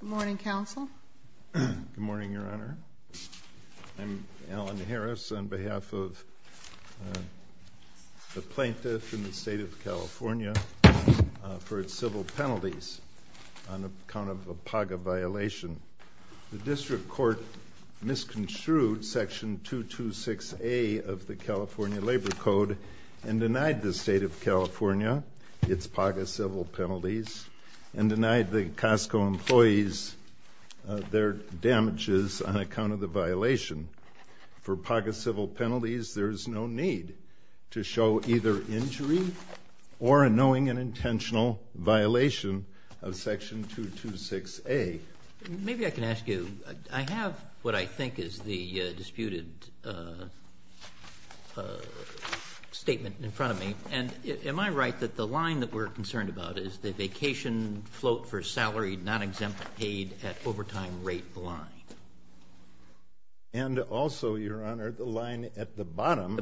Good morning, Counsel. Good morning, Your Honor. I'm Alan Harris on behalf of the plaintiff in the State of California for its civil penalties on account of a PAGA violation. The District Court misconstrued Section 226A of the California Labor Code and denied the State of California its PAGA civil penalties and denied the Costco employees their damages on account of the violation. For PAGA civil penalties, there's no need to show either injury or a knowing and intentional violation of Section 226A. Maybe I can ask you, I have what I think is the disputed statement in front of me, and am I right that the vacation float for salary not exempt paid at overtime rate line? And also, Your Honor, the line at the bottom,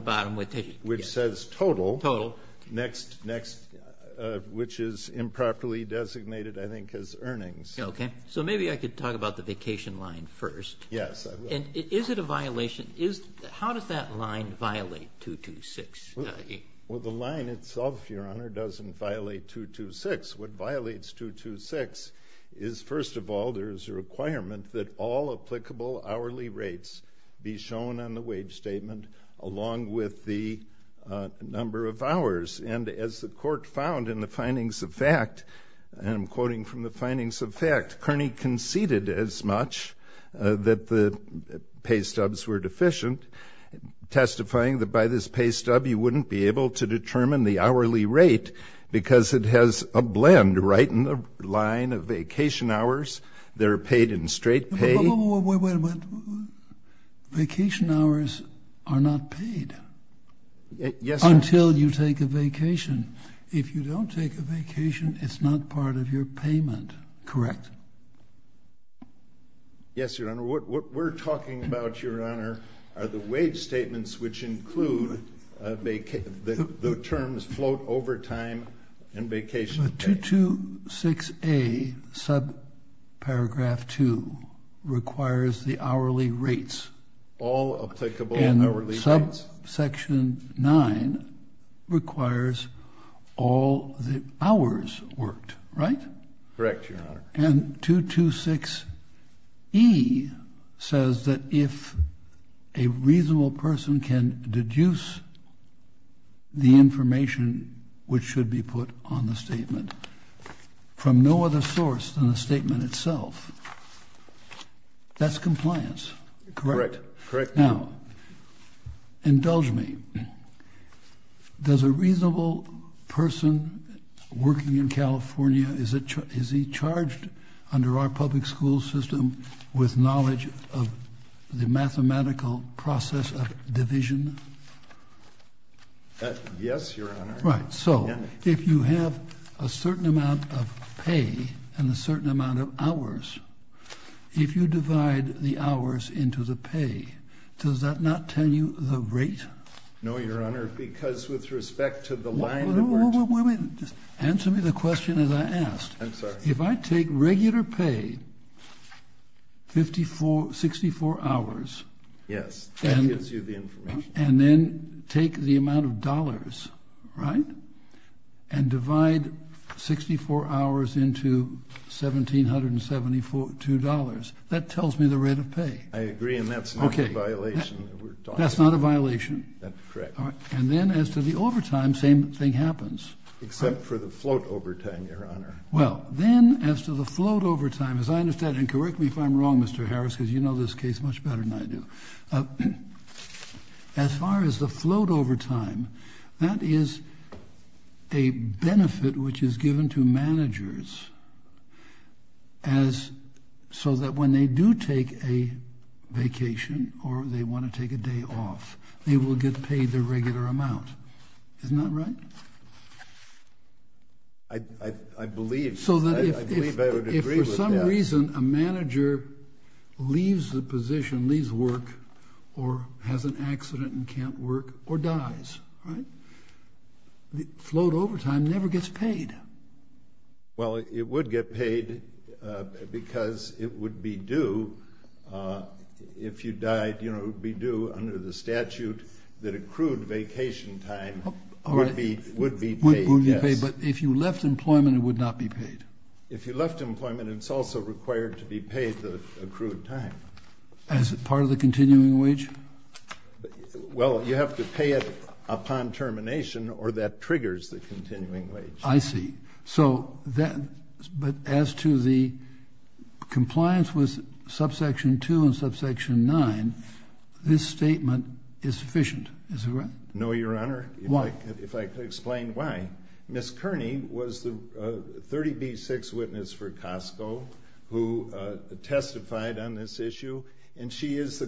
which says total, next, next, which is improperly designated, I think, as earnings. Okay, so maybe I could talk about the vacation line first. Yes. And is it a violation? How does that line violate 226A? Well, the line itself, Your Honor, doesn't violate 226. What violates 226 is, first of all, there is a requirement that all applicable hourly rates be shown on the wage statement along with the number of hours. And as the court found in the findings of fact, and I'm quoting from the findings of by this pay stub, you wouldn't be able to determine the hourly rate because it has a blend right in the line of vacation hours that are paid in straight pay. Wait, wait, wait. Vacation hours are not paid. Yes, Your Honor. Until you take a vacation. If you don't take a vacation, it's not part of your payment. Correct. Yes, Your Honor. What we're talking about, Your Honor, are the wage statements which include the terms float over time and vacation pay. 226A, subparagraph 2, requires the hourly rates. All applicable hourly rates. And subsection 9 requires all the hours worked. Right? Correct, Your Honor. And 226E says that if a reasonable person can deduce the information which should be put on the statement from no other source than the statement itself, that's compliance. Correct. Correct. Now, indulge me. Does a reasonable person working in California, is it, is he charged under our public school system with knowledge of the mathematical process of division? Yes, Your Honor. Right. So if you have a certain amount of pay and a certain amount of hours, if you divide the hours into the pay, does that not tell you the rate? No, Your Honor, because with respect to the line of work. Answer me the question as I asked. I'm sorry. If I take regular pay, 54, 64 hours. Yes, that gives you the information. And then take the amount of dollars, right? And divide 64 hours into $1,772. That tells me the rate of pay. I agree and that's not a violation. That's correct. And then as to the overtime, same thing happens. Except for the float overtime, Your Honor. Well, then as to the float overtime, as I understand, and correct me if I'm wrong, Mr. Harris, because you know this case much better than I do. As far as the float overtime, that is a benefit which is given to managers as, so that when they do take a vacation or they want to take a day off, they will get paid their regular amount. Isn't that right? I believe. So that if for some reason a manager leaves the position, leaves work, or has an accident and can't work, or dies, right? The float overtime never gets paid. Well, it would get paid because it would be due, if you died, you know, it would be due under the statute that accrued vacation time would be paid. But if you left employment, it would not be paid? If you left employment, it's also required to be paid the accrued time. As a part of the continuing wage? Well, you have to pay it upon termination or that triggers the continuing wage. I see. So that, but as to the compliance with subsection 2 and subsection 9, this statement is sufficient, is it right? No, your honor. Why? If I could explain why. Ms. Kearney was the 30B6 witness for Costco who testified on this issue and she is the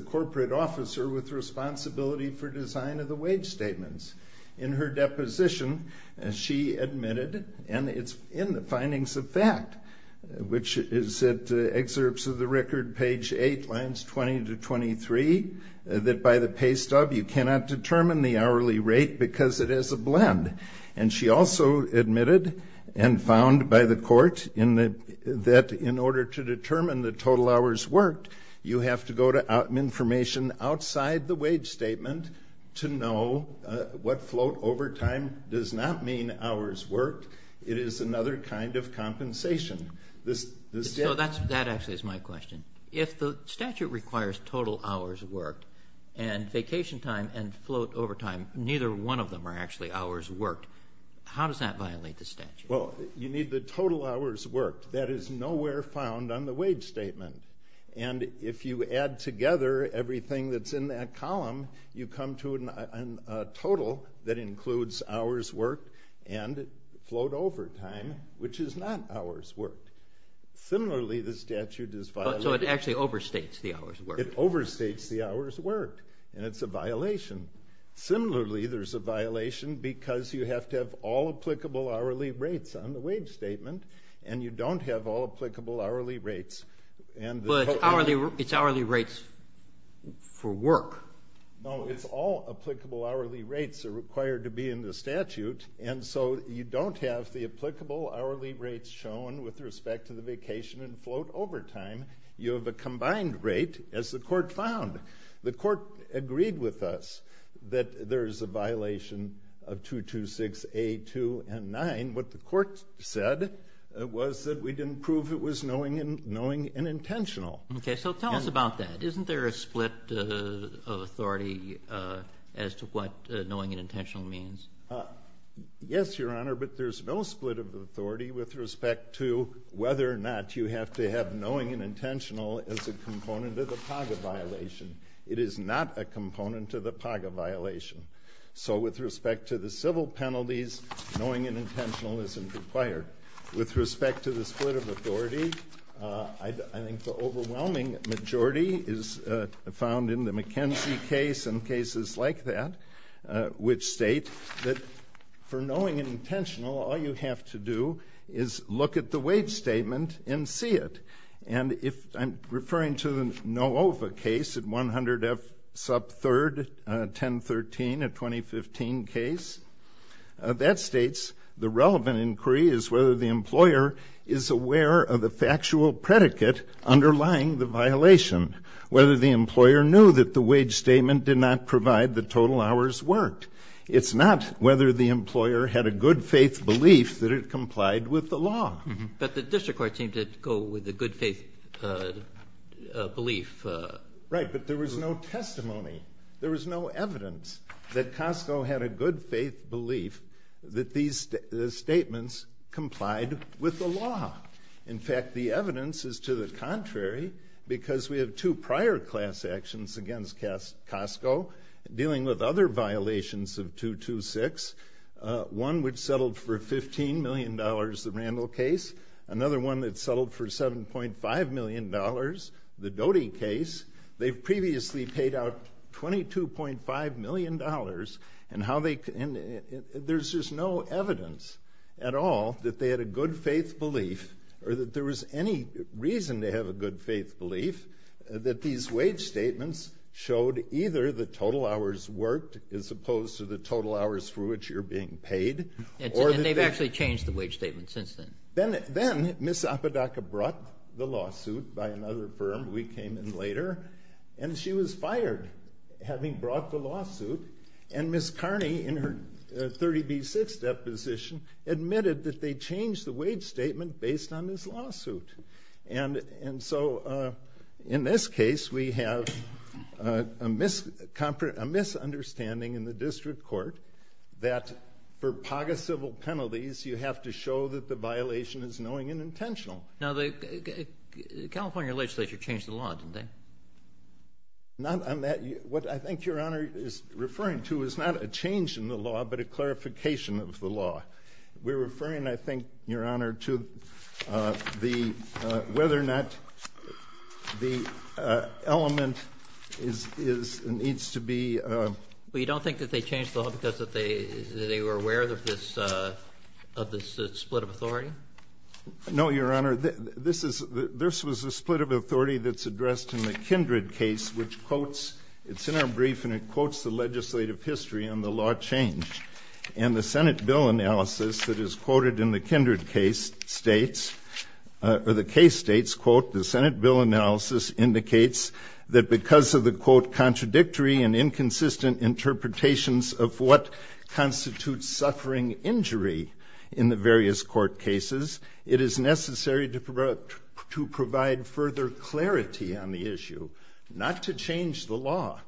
In her deposition, she admitted, and it's in the findings of fact, which is at excerpts of the record, page 8, lines 20 to 23, that by the pay stub you cannot determine the hourly rate because it is a blend. And she also admitted and found by the court in the, that in order to determine the total hours worked, you have to go to information outside the wage statement to know what float over time does not mean hours worked. It is another kind of compensation. This, this So that's, that actually is my question. If the statute requires total hours worked and vacation time and float over time, neither one of them are actually hours worked. How does that violate the statute? Well, you need the total hours worked. That is nowhere found on the wage statement. And if you add together everything that's in that column, you come to a total that includes hours worked and float over time, which is not hours worked. Similarly, the statute is violated. So it actually overstates the hours worked. It overstates the hours worked and it's a violation. Similarly, there's a violation because you have to all applicable hourly rates on the wage statement and you don't have all applicable hourly rates. But hourly, it's hourly rates for work. No, it's all applicable hourly rates are required to be in the statute. And so you don't have the applicable hourly rates shown with respect to the vacation and float over time. You have a combined rate as the court found. The court agreed with us that there is a violation of 226A2 and 9. What the court said was that we didn't prove it was knowing and knowing and intentional. Okay, so tell us about that. Isn't there a split of authority as to what knowing and intentional means? Yes, Your Honor, but there's no split of authority with respect to whether or not you have to have knowing and intentional as a component of the violation. So with respect to the civil penalties, knowing and intentional isn't required. With respect to the split of authority, I think the overwhelming majority is found in the McKenzie case and cases like that, which state that for knowing and intentional, all you have to do is look at the wage statement and see it. And if I'm referring to the Novova case at 100F sub 3rd, 1013, a 2015 case, that states the relevant inquiry is whether the employer is aware of the factual predicate underlying the violation, whether the employer knew that the wage statement did not provide the total hours worked. It's not whether the employer had a good faith belief that it complied with the law. But the district court seemed to go with a good faith belief. Right, but there was no testimony. There was no evidence that Costco had a good faith belief that these statements complied with the law. In fact, the evidence is to the contrary, because we have two prior class actions against Costco dealing with other violations of Randall case, another one that settled for $7.5 million, the Doty case, they've previously paid out $22.5 million. And how they can, there's just no evidence at all that they had a good faith belief, or that there was any reason to have a good faith belief that these wage statements showed either the total hours worked as opposed to the total hours for which you're being paid. And they've actually changed the wage statement since then. Then, then, Ms. Apodaca brought the lawsuit by another firm, we came in later, and she was fired, having brought the lawsuit. And Ms. Carney, in her 30b-6 deposition, admitted that they changed the wage statement based on this lawsuit. And, and so, in this case, we have a misunderstanding in the district court, that for PAGA civil penalties, you have to show that the violation is knowing and intentional. Now, the California legislature changed the law, didn't they? Not on that, what I think Your Honor is referring to is not a change in the law, but a clarification of the law. We're referring, I think, Your Honor, to the, whether or not the element is, is, needs to be... Well, you don't think that they changed the law because that they, they were aware of this, of this split of authority? No, Your Honor, this is, this was a split of authority that's addressed in the Kindred case, which quotes, it's in our brief, and it quotes the legislative history on the law change. And the Senate bill analysis that is quoted in the Kindred case states, or the case states, quote, the Senate bill analysis indicates that because of the, quote, contradictory and inconsistent interpretations of what constitutes suffering injury in the various court cases, it is necessary to provide, to provide further clarity on the issue, not to change the law.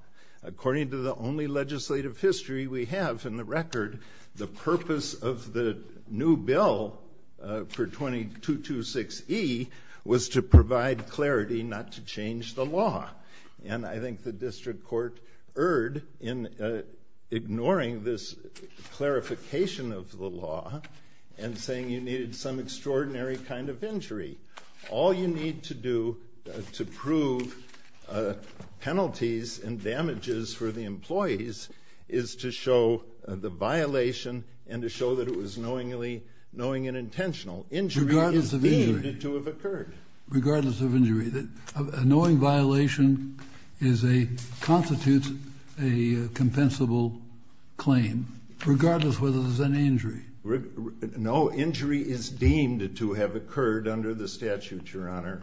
According to the only legislative history we have in the record, the purpose of the new bill for 226E was to provide clarity, not to change the law. And I think the district court erred in ignoring this clarification of the law and saying you needed some extraordinary kind of injury. All you need to do to prove penalties and damages for the employees is to show the violation and to show that it was knowingly, knowing and intentional. Injury is deemed to have occurred. Regardless of injury. A knowing violation is a, constitutes a compensable claim, regardless whether there's any injury. No, injury is deemed to have occurred under the statute, Your Honor.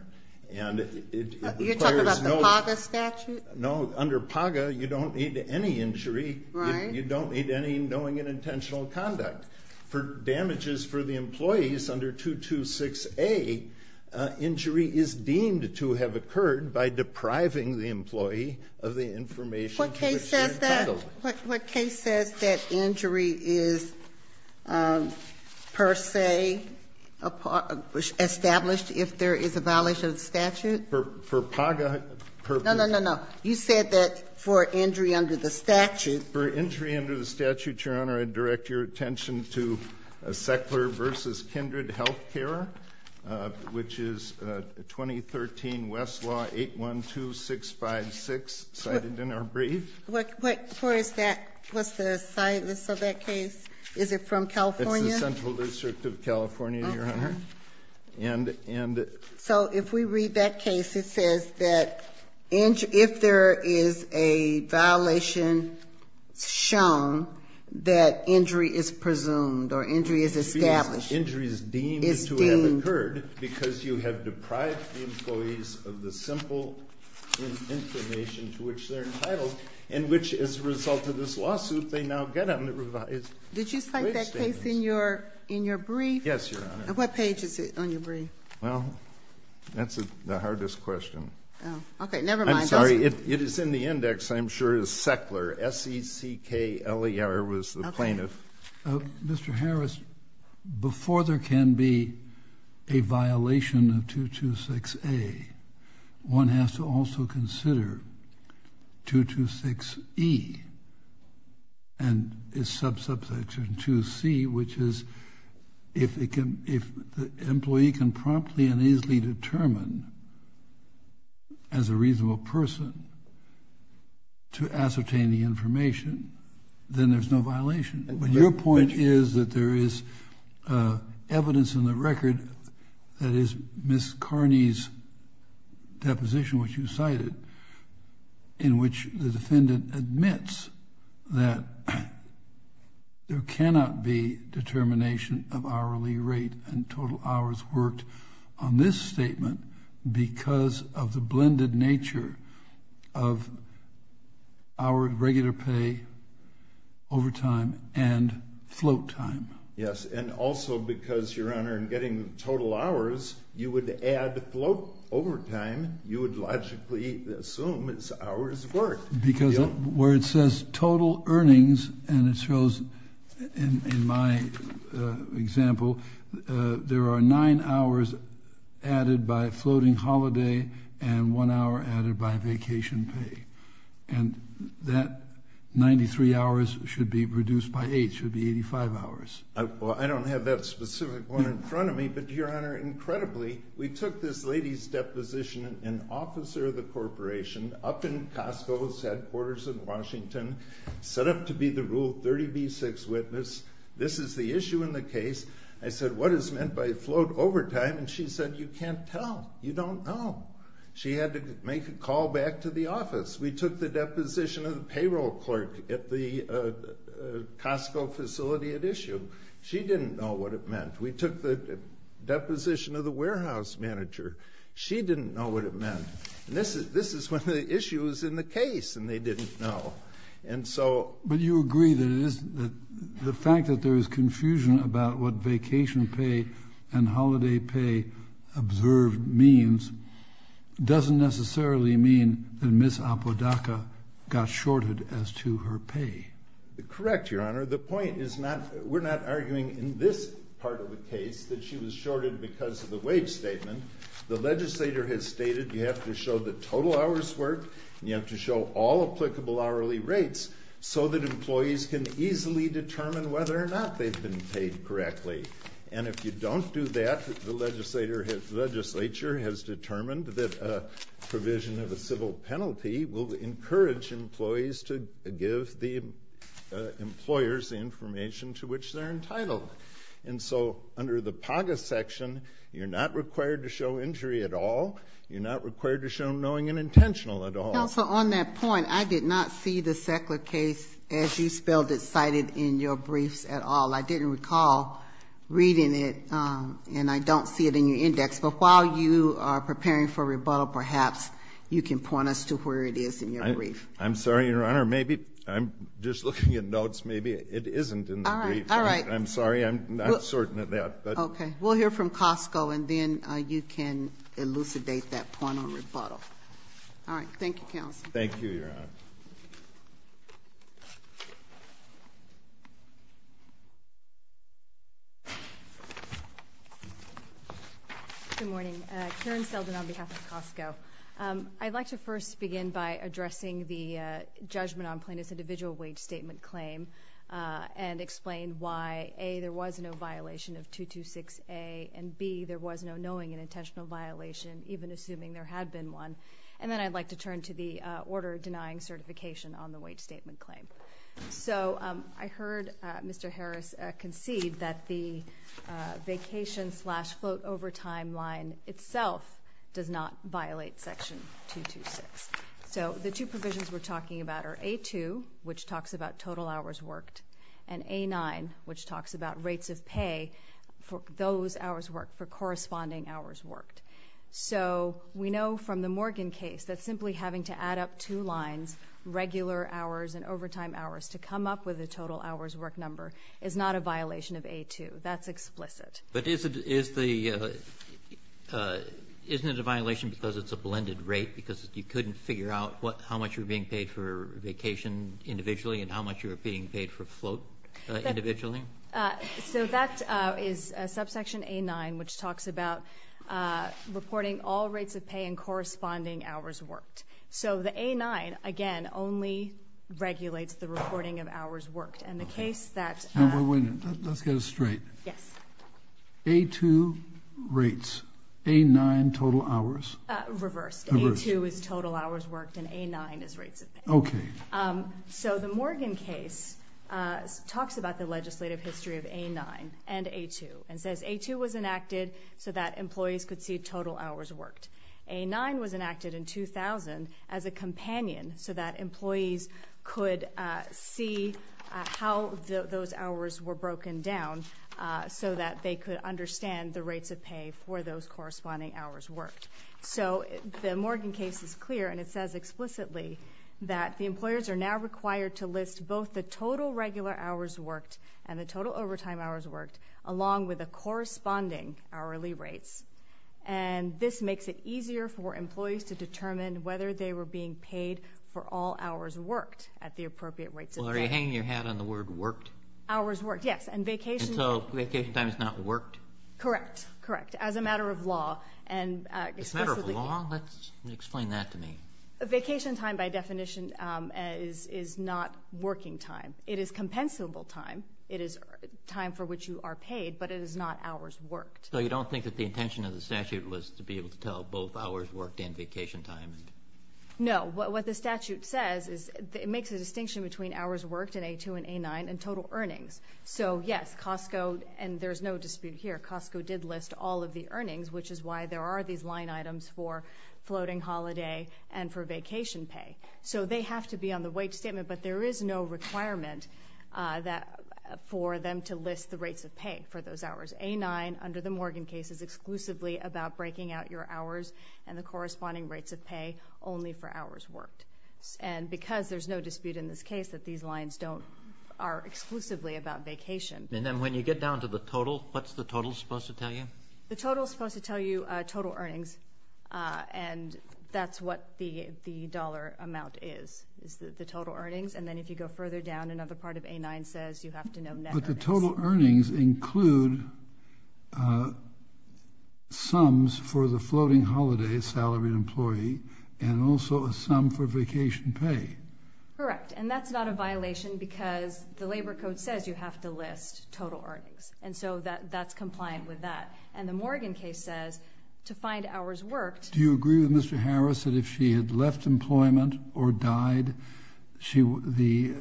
And it requires no... You're talking about the PAGA statute? No, under PAGA, you don't need any injury. Right. You don't need any knowing and intentional conduct. For damages for the employees under 226A, injury is deemed to have occurred by depriving the employee of the information to which they're entitled. What case says that injury is per se established if there is a violation of the statute? For PAGA purposes? No, no, no, no. You said that for injury under the statute. For injury under the statute, Your Honor, I direct your attention to a Sackler versus Kindred Health Care, which is 2013 Westlaw 812656, cited in our brief. What court is that? What's the site of that case? Is it from California? It's the Central District of California, Your Honor. So if we read that case, it says that if there is a violation shown, that injury is presumed or injury is established. Injury is deemed to have occurred because you have deprived the employees of the simple information to which they're entitled, and which as a result of this lawsuit, they now get on the revised wage statements. Did you cite that case in your brief? Yes, Your Honor. And what page is it on your brief? Well, that's the hardest question. Okay. Never mind. I'm sorry. It is in the index, I'm sure, is Sackler. S-E-C-K-L-E-R was the plaintiff. Mr. Harris, before there can be a violation of 226A, one has to also consider 226E and its sub-subsection 2C, which is if the employee can promptly and easily determine as a reasonable person to ascertain the information, then there's no violation. But your point is that there is evidence in the record that is Ms. Sackler cited in which the defendant admits that there cannot be determination of hourly rate and total hours worked on this statement because of the blended nature of hour regular pay, overtime, and float time. Yes. And also because, Your Honor, in getting total hours, you would add float overtime. You would logically assume it's hours worked. Because where it says total earnings, and it shows in my example, there are nine hours added by floating holiday and one hour added by vacation pay. And that 93 hours should be reduced by eight, should be 85 hours. Well, I don't have that specific one in front of me. But Your Honor, incredibly, we took this lady's deposition, an officer of the corporation up in Costco's headquarters in Washington, set up to be the rule 30B6 witness. This is the issue in the case. I said, what is meant by float overtime? And she said, you can't tell. You don't know. She had to make a call back to the office. We took the deposition of the payroll clerk at the Costco facility at issue. She didn't know what it meant. We took the deposition of the warehouse manager. She didn't know what it meant. And this is one of the issues in the case. And they didn't know. And so. But you agree that the fact that there is confusion about what vacation pay and holiday pay observed means doesn't necessarily mean that Ms. Apodaca got shorted as to her pay. Correct, Your Honor. The point is not, we're not arguing in this part of the case that she was shorted because of the wage statement. The legislator has stated you have to show the total hours worked, you have to show all applicable hourly rates so that employees can easily determine whether or not they've been paid correctly. And if you don't do that, the legislature has determined that a provision of a civil employer's information to which they're entitled. And so under the PAGA section, you're not required to show injury at all. You're not required to show knowing and intentional at all. Counsel, on that point, I did not see the Sackler case as you spelled it cited in your briefs at all. I didn't recall reading it and I don't see it in your index. But while you are preparing for rebuttal, perhaps you can point us to where it is in your brief. I'm sorry, Your Honor. Maybe I'm just looking at notes. Maybe it isn't in the brief. All right. I'm sorry. I'm not certain of that. OK, we'll hear from Costco and then you can elucidate that point on rebuttal. All right. Thank you, Counsel. Thank you, Your Honor. Good morning, Karen Selden on behalf of Costco. I'd like to first begin by addressing the judgment on plaintiff's individual wage statement claim and explain why, A, there was no violation of 226A and, B, there was no knowing and intentional violation, even assuming there had been one. And then I'd like to turn to the order denying certification on the wage statement claim. So I heard Mr. Harris concede that the vacation slash float overtime line itself does not violate Section 226. So the two provisions we're talking about are A2, which talks about total hours worked, and A9, which talks about rates of pay for those hours worked, for corresponding hours worked. So we know from the Morgan case that simply having to add up two lines, regular hours and overtime hours, to come up with a total hours worked number is not a violation of A2. That's explicit. But isn't it a violation because it's a blended rate, because you couldn't figure out how much you're being paid for vacation individually and how much you're being paid for float individually? So that is subsection A9, which talks about reporting all rates of pay and corresponding hours worked. So the A9, again, only regulates the reporting of hours worked. And the case that... Now, wait a minute. Let's get it straight. Yes. A2 rates, A9 total hours? Reversed. A2 is total hours worked and A9 is rates of pay. Okay. So the Morgan case talks about the legislative history of A9 and A2 and says A2 was enacted so that employees could see total hours worked. A9 was enacted in 2000 as a companion so that employees could see how those hours were broken down so that they could understand the rates of pay for those corresponding hours worked. So the Morgan case is clear and it says explicitly that the employers are now required to list both the total regular hours worked and the total overtime hours worked along with the corresponding hourly rates. And this makes it easier for employees to determine whether they were being paid for all hours worked at the appropriate rates of pay. Are you hanging your hat on the word worked? Hours worked, yes. And vacation... And so vacation time is not worked? Correct. Correct. As a matter of law and... As a matter of law? Let's explain that to me. Vacation time by definition is not working time. It is compensable time. It is time for which you are paid, but it is not hours worked. So you don't think that the intention of the statute was to be able to tell both hours worked and vacation time? No. What the statute says is it makes a distinction between hours worked in A2 and A9 and total earnings. So yes, Costco, and there's no dispute here, Costco did list all of the earnings, which is why there are these line items for floating holiday and for vacation pay. So they have to be on the wait statement, but there is no requirement for them to list the rates of pay for those hours. A9 under the Morgan case is exclusively about breaking out your hours and the corresponding rates of pay only for hours worked. And because there's no dispute in this case that these lines are exclusively about vacation. And then when you get down to the total, what's the total supposed to tell you? The total is supposed to tell you total earnings, and that's what the dollar amount is, is the total earnings. And then if you go further down, another part of A9 says you have to know net earnings. But the total earnings include sums for the floating holiday salary employee and also a sum for vacation pay. Correct. And that's not a violation because the labor code says you have to list total earnings. And so that's compliant with that. And the Morgan case says to find hours worked. Do you agree with Mr. Harris that if she had left employment or died, the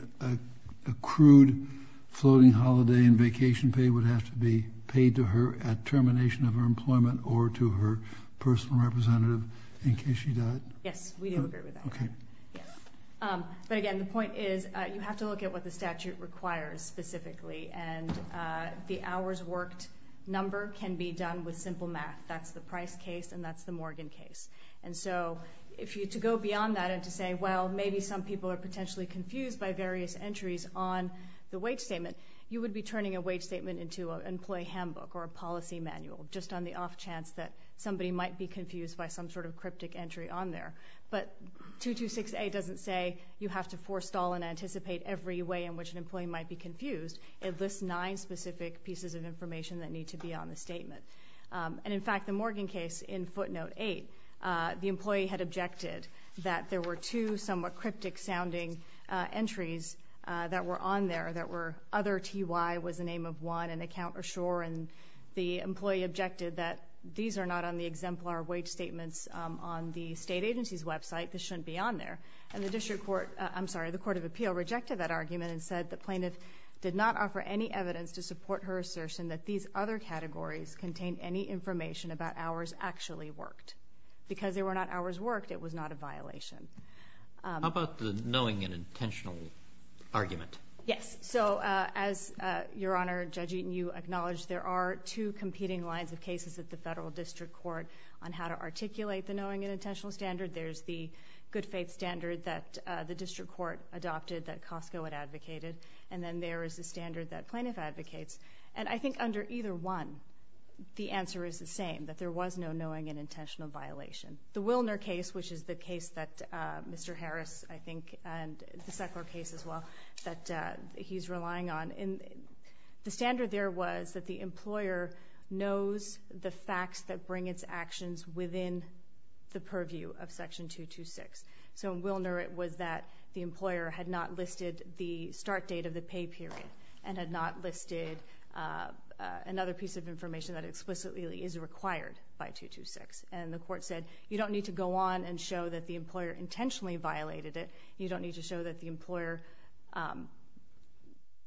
accrued floating holiday and vacation pay would have to be paid to her at termination of her employment or to her personal representative in case she died? Yes, we do agree with that. Okay. Yes. But again, the point is you have to look at what the statute requires specifically. And the hours worked number can be done with simple math. That's the Price case and that's the Morgan case. And so to go beyond that and to say, well, maybe some people are potentially confused by various entries on the wage statement, you would be turning a wage statement into an employee handbook or a policy manual just on the off chance that somebody might be confused by some sort of cryptic entry on there. But 226A doesn't say you have to forestall and anticipate every way in which an employee might be confused. It lists nine specific pieces of information that need to be on the statement. And in fact, the Morgan case in footnote eight, the employee had objected that there were two somewhat cryptic sounding entries that were on there that were other TY was the name of one and account or shore. And the employee objected that these are not on the exemplar wage statements on the state agency's website. This shouldn't be on there. And the district court, I'm sorry, the court of appeal rejected that argument and said the plaintiff did not offer any evidence to support her assertion that these other categories contain any information about hours actually worked because they were not hours worked. It was not a violation. How about the knowing and intentional argument? Yes. So, uh, as, uh, your honor judging, you acknowledge there are two competing lines of cases at the federal district court on how to articulate the knowing and intentional standard. There's the good faith standard that, uh, the district court adopted that Costco had advocated. And then there is a standard that plaintiff advocates. And I think under either one, the answer is the same, that there was no knowing and intentional violation. The Wilner case, which is the case that, uh, Mr. Harris, I think, and the second case as well that, uh, he's relying on. And the standard there was that the employer knows the facts that bring its actions within the purview of section 226. So Wilner, it was that the employer had not listed the start date of the pay period and had not listed, uh, uh, another piece of information that explicitly is required by 226. And the court said, you don't need to go on and show that the employer intentionally violated it. You don't need to show that the employer, um,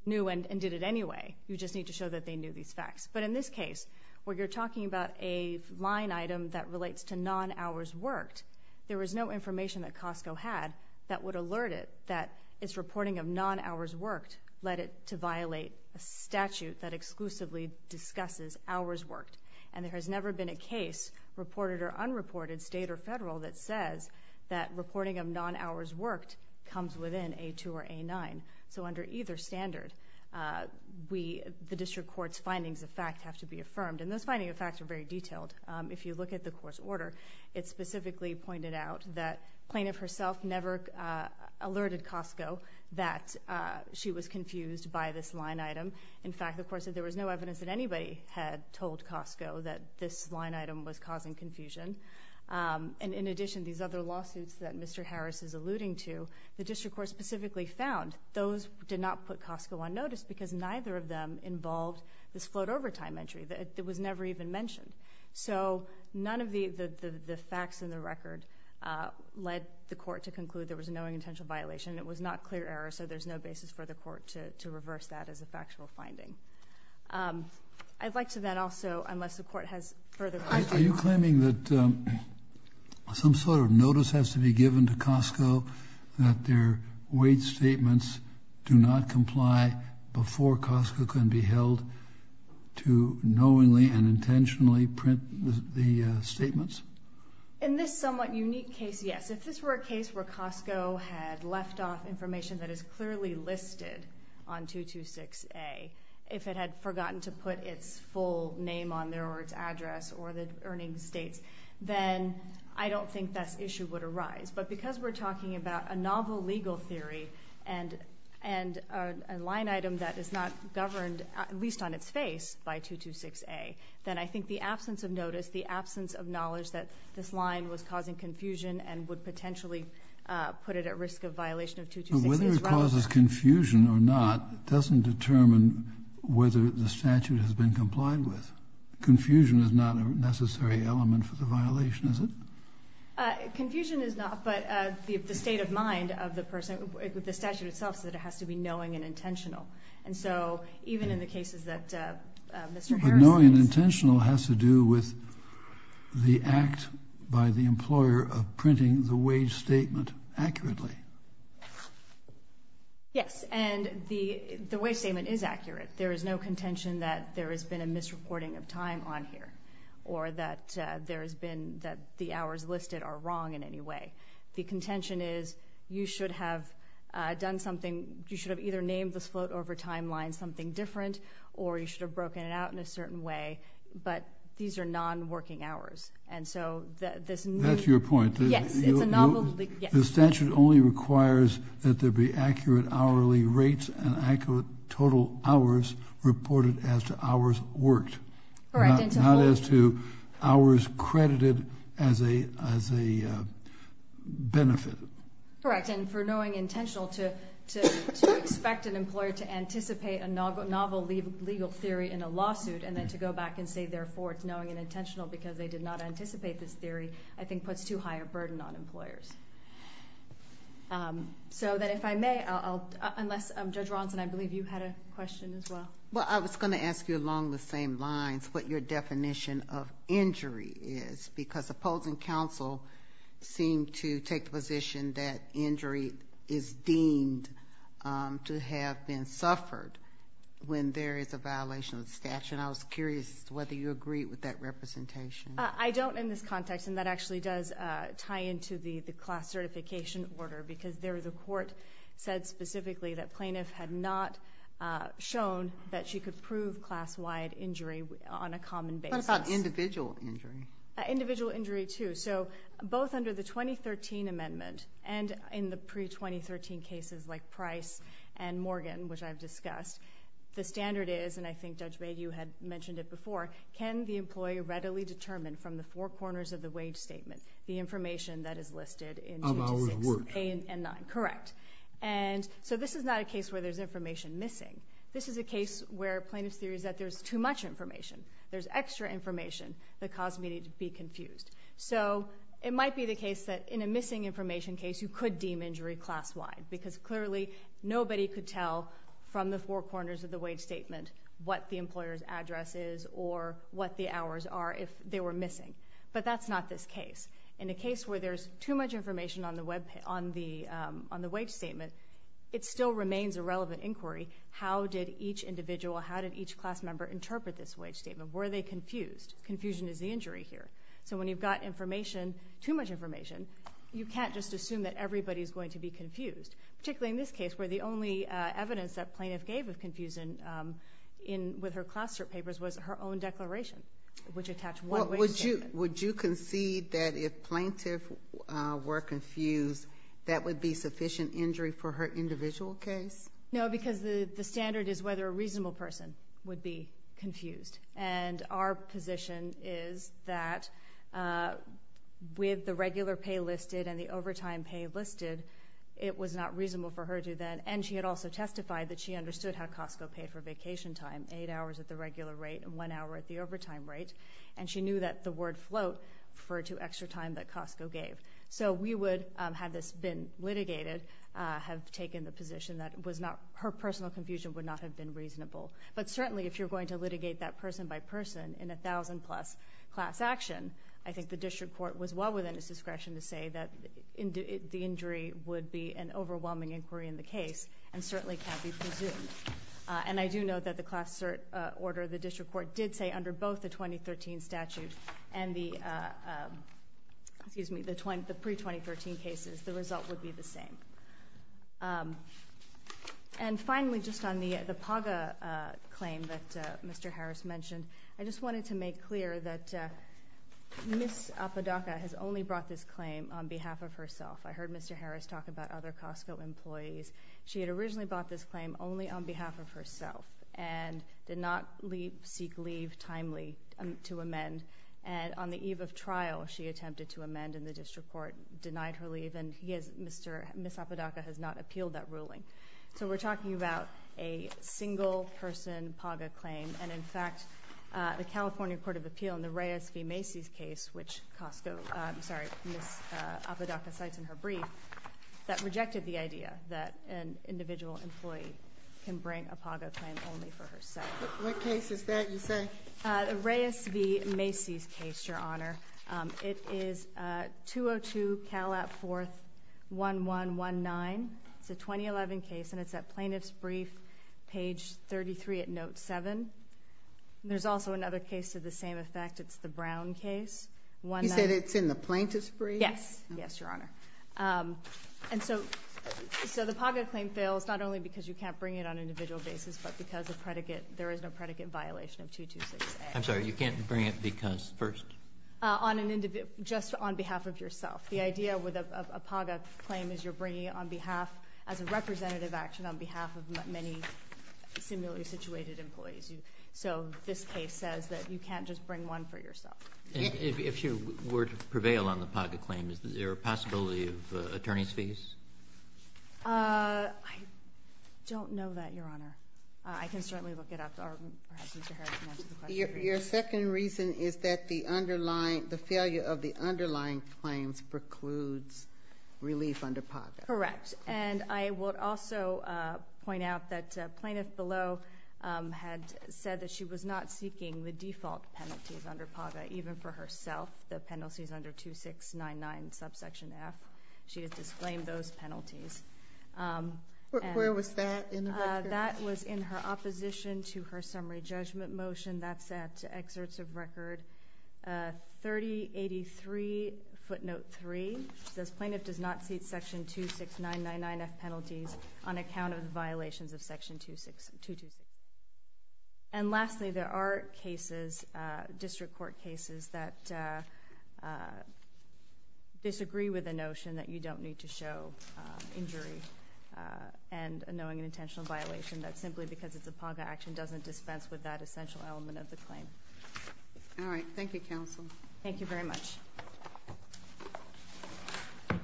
knew and did it anyway. You just need to show that they knew these facts. But in this case, where you're talking about a line item that relates to non-hours worked, there was no information that Costco had that would alert it that it's reporting of non-hours worked led it to violate a statute that exclusively discusses hours worked. And there has never been a case reported or unreported state or federal that says that reporting of non-hours worked comes within A2 or A9. So under either standard, uh, we, the district court's findings of fact have to be affirmed. And those finding of facts are very detailed. Um, if you look at the court's order, it specifically pointed out that plaintiff herself never, uh, alerted Costco that, uh, she was confused by this line item. In fact, the court said there was no evidence that anybody had told Costco that this line item was causing confusion. Um, and in addition, these other lawsuits that Mr. Harris is alluding to, the district court specifically found those did not put Costco on notice because neither of them involved this float over time entry that was never even mentioned. So none of the, the, the, the facts in the record, uh, led the court to conclude there was a knowing intentional violation and it was not clear error. So there's no basis for the court to, to reverse that as a factual finding. Um, I'd like to then also, unless the court has further questions. Are you claiming that, um, some sort of notice has to be given to Costco that their weight statements do not comply before Costco can be held to knowingly and intentionally print the statements in this somewhat unique case? Yes. If this were a case where Costco had left off information that is clearly listed on two, two, six, a, if it had forgotten to put its full name on there or its address or the earning states, then I don't think that issue would arise, but because we're talking about a novel legal theory and, and, uh, a line item that is not governed at least on its face by two, two, six, a, then I think the absence of notice, the absence of knowledge that this line was causing confusion and would potentially, uh, put it at risk of violation of two, two, six, a is rather... But whether it causes confusion or not doesn't determine whether the statute has been complied with. Confusion is not a necessary element for the violation, is it? Uh, confusion is not, but, uh, the, the state of mind of the person with the statute itself is that it has to be knowing and intentional. And so even in the cases that, uh, uh, Mr. Harrison... But knowing and intentional has to do with the act by the employer of printing the wage statement accurately. Yes. And the, the way statement is accurate. There is no contention that there has been a misreporting of time on here or that, uh, there has been that the hours listed are wrong in any way. The contention is you should have, uh, done something, you should have either named this float over timeline something different, or you should have broken it out in a certain way, but these are non-working hours. And so this... That's your point. Yes. It's a novel... The statute only requires that there be accurate hourly rates and accurate total hours reported as to hours worked, not as to hours credited as a, as a benefit. Correct. And for knowing intentional to, to, to expect an employer to anticipate a novel, novel legal theory in a lawsuit, and then to go back and say, therefore it's knowing and intentional because they did not anticipate this theory, I think puts too high a burden on employers. Um, so that if I may, I'll, I'll, unless, um, Judge Ronson, I believe you had a question as well. Well, I was going to ask you along the same lines, what your definition of injury is, because opposing counsel seem to take the position that injury is deemed, um, to have been suffered when there is a violation of the statute. And I was curious whether you agree with that representation. I don't in this context. And that actually does, uh, tie into the, the class certification order because there, the court said specifically that plaintiff had not, uh, shown that she could prove class-wide injury on a common basis. What about individual injury? Uh, individual injury too. So both under the 2013 amendment and in the pre-2013 cases like Price and Morgan, which I've discussed, the standard is, and I think Judge Mayhew had mentioned it before, can the employee readily determine from the four hours worked? A and nine, correct. And so this is not a case where there's information missing. This is a case where plaintiff's theory is that there's too much information. There's extra information that caused me to be confused. So it might be the case that in a missing information case, you could deem injury class-wide because clearly nobody could tell from the four corners of the wage statement what the employer's address is or what the hours are if they were missing, but that's not this case. In a case where there's too much information on the web, on the, um, on the wage statement, it still remains a relevant inquiry. How did each individual, how did each class member interpret this wage statement? Were they confused? Confusion is the injury here. So when you've got information, too much information, you can't just assume that everybody's going to be confused, particularly in this case where the only, uh, evidence that plaintiff gave of confusion, um, in with her classroom papers was her own declaration, which attached one way. Would you concede that if plaintiff, uh, were confused, that would be sufficient injury for her individual case? No, because the standard is whether a reasonable person would be confused. And our position is that, uh, with the regular pay listed and the overtime pay listed, it was not reasonable for her to then, and she had also testified that she understood how Costco paid for vacation time, eight hours at the regular rate and one hour at the overtime rate. And she knew that the word float referred to extra time that Costco gave. So we would, um, have this been litigated, uh, have taken the position that was not, her personal confusion would not have been reasonable. But certainly if you're going to litigate that person by person in a thousand plus class action, I think the district court was well within its discretion to say that the injury would be an overwhelming inquiry in the case and certainly can't be presumed. Uh, and I do know that the class cert, uh, order, the district court did say that under both the 2013 statute and the, uh, um, excuse me, the 20, the pre-2013 cases, the result would be the same. Um, and finally, just on the, the PGA, uh, claim that, uh, Mr. Harris mentioned, I just wanted to make clear that, uh, Ms. Apodaca has only brought this claim on behalf of herself. I heard Mr. Harris talk about other Costco employees. She had originally bought this claim only on behalf of herself and did not seek leave timely to amend. And on the eve of trial, she attempted to amend and the district court denied her leave and he has, Mr. Ms. Apodaca has not appealed that ruling. So we're talking about a single person PGA claim. And in fact, uh, the California court of appeal in the Reyes v. Macy's case, which Costco, I'm sorry, Ms. Apodaca cites in her brief that rejected the idea that an individual employee can bring a PGA claim only for herself. What case is that you say? Uh, the Reyes v. Macy's case, Your Honor. Um, it is, uh, 202 Calat 4th, 1119. It's a 2011 case and it's at plaintiff's brief, page 33 at note seven. There's also another case to the same effect. It's the Brown case. You said it's in the plaintiff's brief? Yes. Yes, Your Honor. Um, and so, so the PGA claim fails not only because you can't bring it on behalf of yourself, but there is no predicate violation of 226A. I'm sorry. You can't bring it because first? Uh, on an individual, just on behalf of yourself. The idea with a PGA claim is you're bringing it on behalf as a representative action on behalf of many similarly situated employees. You, so this case says that you can't just bring one for yourself. If you were to prevail on the PGA claim, is there a possibility of attorney's fees? Uh, I don't know that, Your Honor. Uh, I can certainly look it up or perhaps Mr. Harris can answer the question for you. Your second reason is that the underlying, the failure of the underlying claims precludes relief under PAGA. Correct. And I would also, uh, point out that a plaintiff below, um, had said that she was not seeking the default penalties under PAGA, even for herself, the penalties under 2699 subsection F. She has disclaimed those penalties. Um, where was that? Uh, that was in her opposition to her summary judgment motion. That's at excerpts of record, uh, 3083 footnote three, says plaintiff does not seek section 2699 F penalties on account of the violations of section 26, 226. And lastly, there are cases, uh, district court cases that, uh, uh, disagree with the notion that you don't need to show, uh, injury, uh, and knowing an intentional violation that simply because it's a PAGA action doesn't dispense with that essential element of the claim. All right. Thank you, counsel. Thank you very much.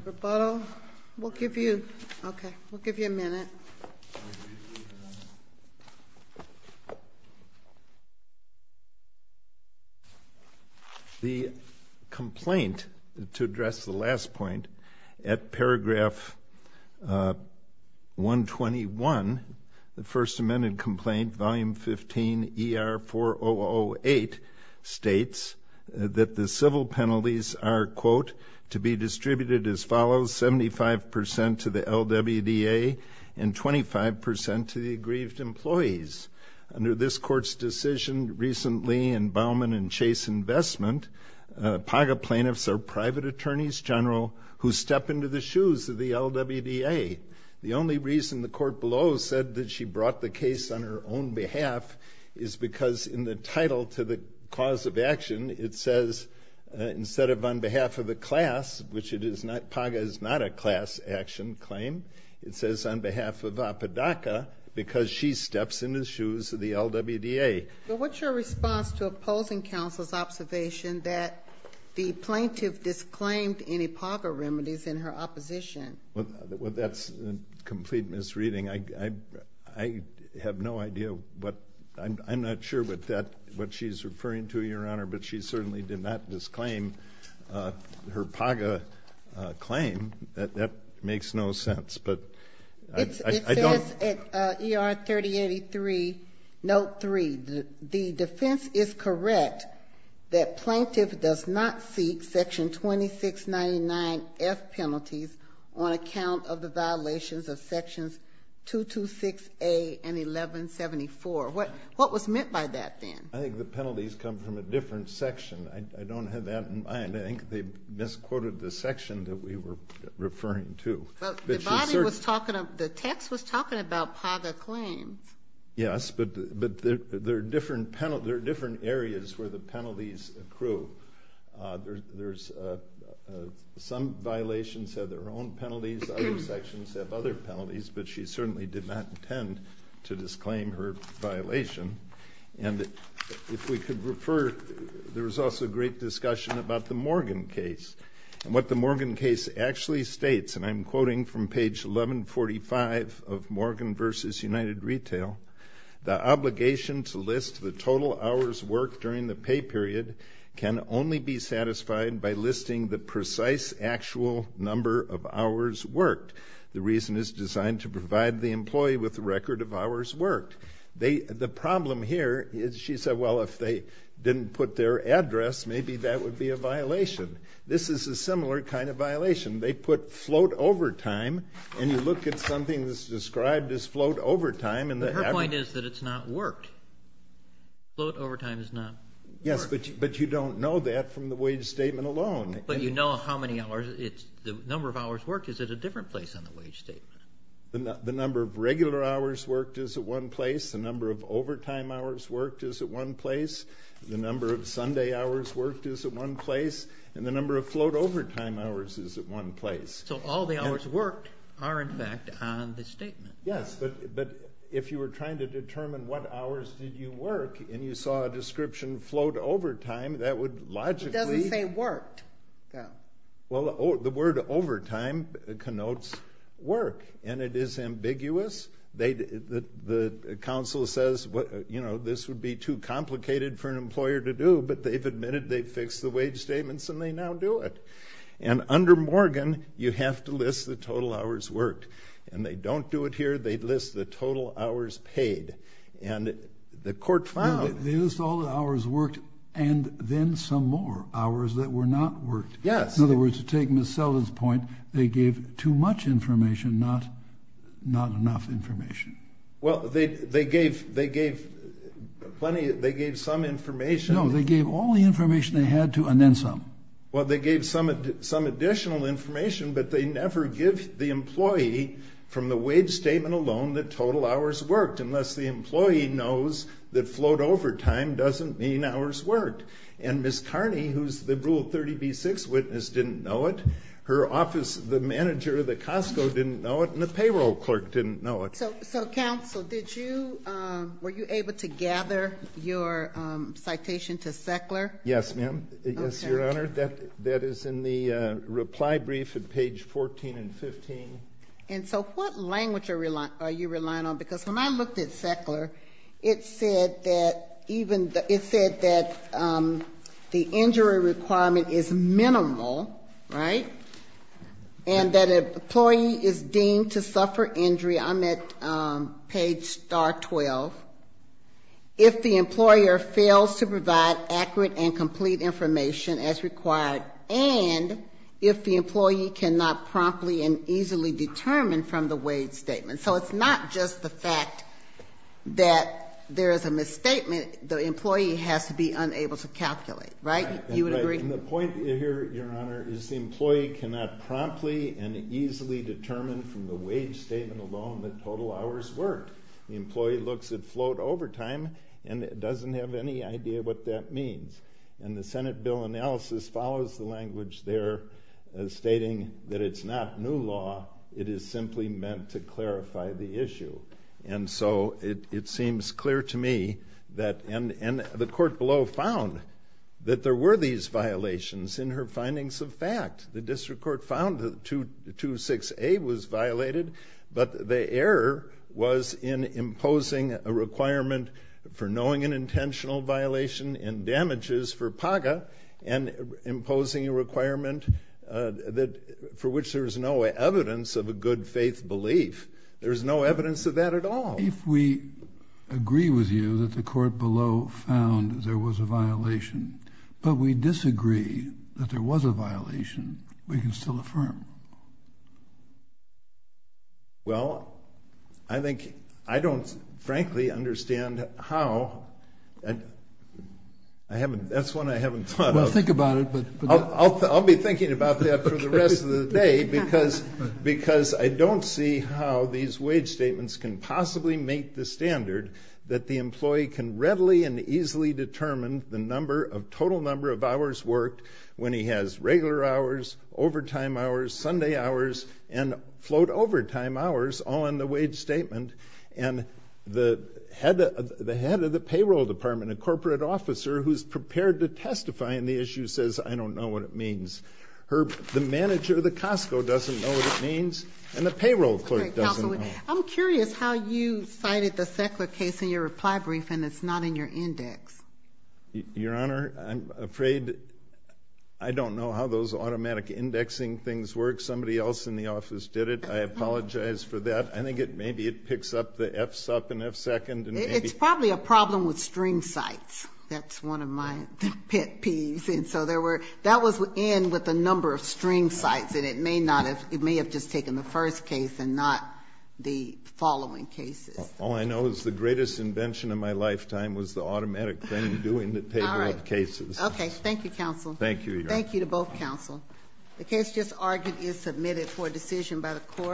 Rebuttal. We'll give you, okay. We'll give you a minute. The complaint to address the last point at paragraph, uh, 121, the first amended complaint, volume 15 ER4008 states that the civil penalties are to be distributed as follows, 75% to the LWDA and 25% to the aggrieved employees. Under this court's decision recently in Bauman and Chase investment, uh, PAGA plaintiffs are private attorneys general who step into the shoes of the LWDA. The only reason the court below said that she brought the case on her own behalf is because in the title to the cause of action, it says, uh, instead of on behalf of the class, which it is not, PAGA is not a class action claim. It says on behalf of APADACA because she steps in the shoes of the LWDA. Well, what's your response to opposing counsel's observation that the plaintiff disclaimed any PAGA remedies in her opposition? Well, that's a complete misreading. I, I, I have no idea what I'm, I'm not sure what that, what she's referring to your honor, but she certainly did not disclaim, uh, her PAGA, uh, claim that that makes no sense, but I don't, uh, ER 3083 note three, the defense is correct. That plaintiff does not seek section 2699 F penalties on account of the violations of sections 2, 2, 6, a and 1174. What, what was meant by that then? I think the penalties come from a different section. I don't have that in mind. I think they misquoted the section that we were referring to. The body was talking, the text was talking about PAGA claims. Yes, but, but there, there are different penalties, there are different areas where the penalties accrue. Uh, there's, there's, uh, uh, some violations have their own penalties, other sections have other penalties, but she certainly did not intend to disclaim her violation. And if we could refer, there was also a great discussion about the Morgan case and what the Morgan case actually states. And I'm quoting from page 1145 of Morgan versus United Retail, the obligation to list the total hours worked during the pay period can only be satisfied by listing the precise actual number of hours worked. The reason is designed to provide the employee with a record of hours worked. They, the problem here is she said, well, if they didn't put their address, maybe that would be a violation. This is a similar kind of violation. They put float over time and you look at something that's described as float over time and the average... But her point is that it's not worked. Float over time is not worked. Yes, but, but you don't know that from the wage statement alone. But you know how many hours it's, the number of hours worked is at a different place on the wage statement. The number of regular hours worked is at one place. The number of overtime hours worked is at one place. The number of Sunday hours worked is at one place and the number of float over time hours is at one place. So all the hours worked are in fact on the statement. Yes, but, but if you were trying to determine what hours did you work and you saw a description float over time, that would logically... It doesn't say worked though. Well, the word overtime connotes work and it is ambiguous. They, the council says, you know, this would be too complicated for an employer to do, but they've admitted they've fixed the wage statements and they now do it and under Morgan, you have to list the total hours worked and they don't do it here. They list the total hours paid and the court found... They list all the hours worked and then some more hours that were not worked. Yes. In other words, to take Ms. Selden's point, they gave too much information, not, not enough information. Well, they, they gave, they gave plenty. They gave some information. No, they gave all the information they had to, and then some. Well, they gave some, some additional information, but they never give the employee from the wage statement alone, the total hours worked unless the employee knows that float over time doesn't mean hours worked and Ms. Selden, the 36 witness didn't know it. Her office, the manager of the Costco didn't know it and the payroll clerk didn't know it. So, so council, did you, were you able to gather your citation to Seckler? Yes, ma'am. Yes, Your Honor. That, that is in the reply brief at page 14 and 15. And so what language are you relying on? Because when I looked at Seckler, it said that even the, it said that the injury requirement is minimal, right? And that employee is deemed to suffer injury. I'm at page star 12. If the employer fails to provide accurate and complete information as required, and if the employee cannot promptly and easily determine from the wage statement. So it's not just the fact that there is a misstatement, the employee has to be unable to calculate, right? You would agree. And the point here, Your Honor, is the employee cannot promptly and easily determine from the wage statement alone that total hours worked. The employee looks at float overtime and doesn't have any idea what that means. And the Senate bill analysis follows the language there stating that it's not new law, it is simply meant to clarify the issue. And so it, it seems clear to me that, and, and the court below found that there were these violations in her findings of fact, the district court found that 226A was violated, but the error was in imposing a requirement for knowing an intentional violation in damages for PAGA and imposing a requirement that, for which there is no evidence of a good faith belief. There's no evidence of that at all. If we agree with you that the court below found there was a violation, but we disagree that there was a violation, we can still affirm. Well, I think, I don't frankly understand how, I haven't, that's one I haven't thought of. Well, think about it. But I'll, I'll be thinking about that for the rest of the day because, because I don't see how these wage statements can possibly make the standard that the employee can readily and easily determine the number of total number of hours worked when he has regular hours, overtime hours, Sunday hours, and float overtime hours on the wage statement. And the head of the head of the payroll department, a corporate officer who's prepared to testify in the issue says, I don't know what it means. Her, the manager of the Costco doesn't know what it means. And the payroll clerk doesn't know. I'm curious how you cited the Sackler case in your reply brief and it's not in your index. Your Honor, I'm afraid I don't know how those automatic indexing things work. Somebody else in the office did it. I apologize for that. I think it, maybe it picks up the F sup and F second. And it's probably a problem with string sites. That's one of my pet peeves. And so there were, that was in with a number of string sites and it may not have, it may have just taken the first case and not the following cases. All I know is the greatest invention of my lifetime was the automatic thing doing the table of cases. Okay. Thank you, counsel. Thank you. Thank you to both counsel. The case just argued is submitted for decision by the court.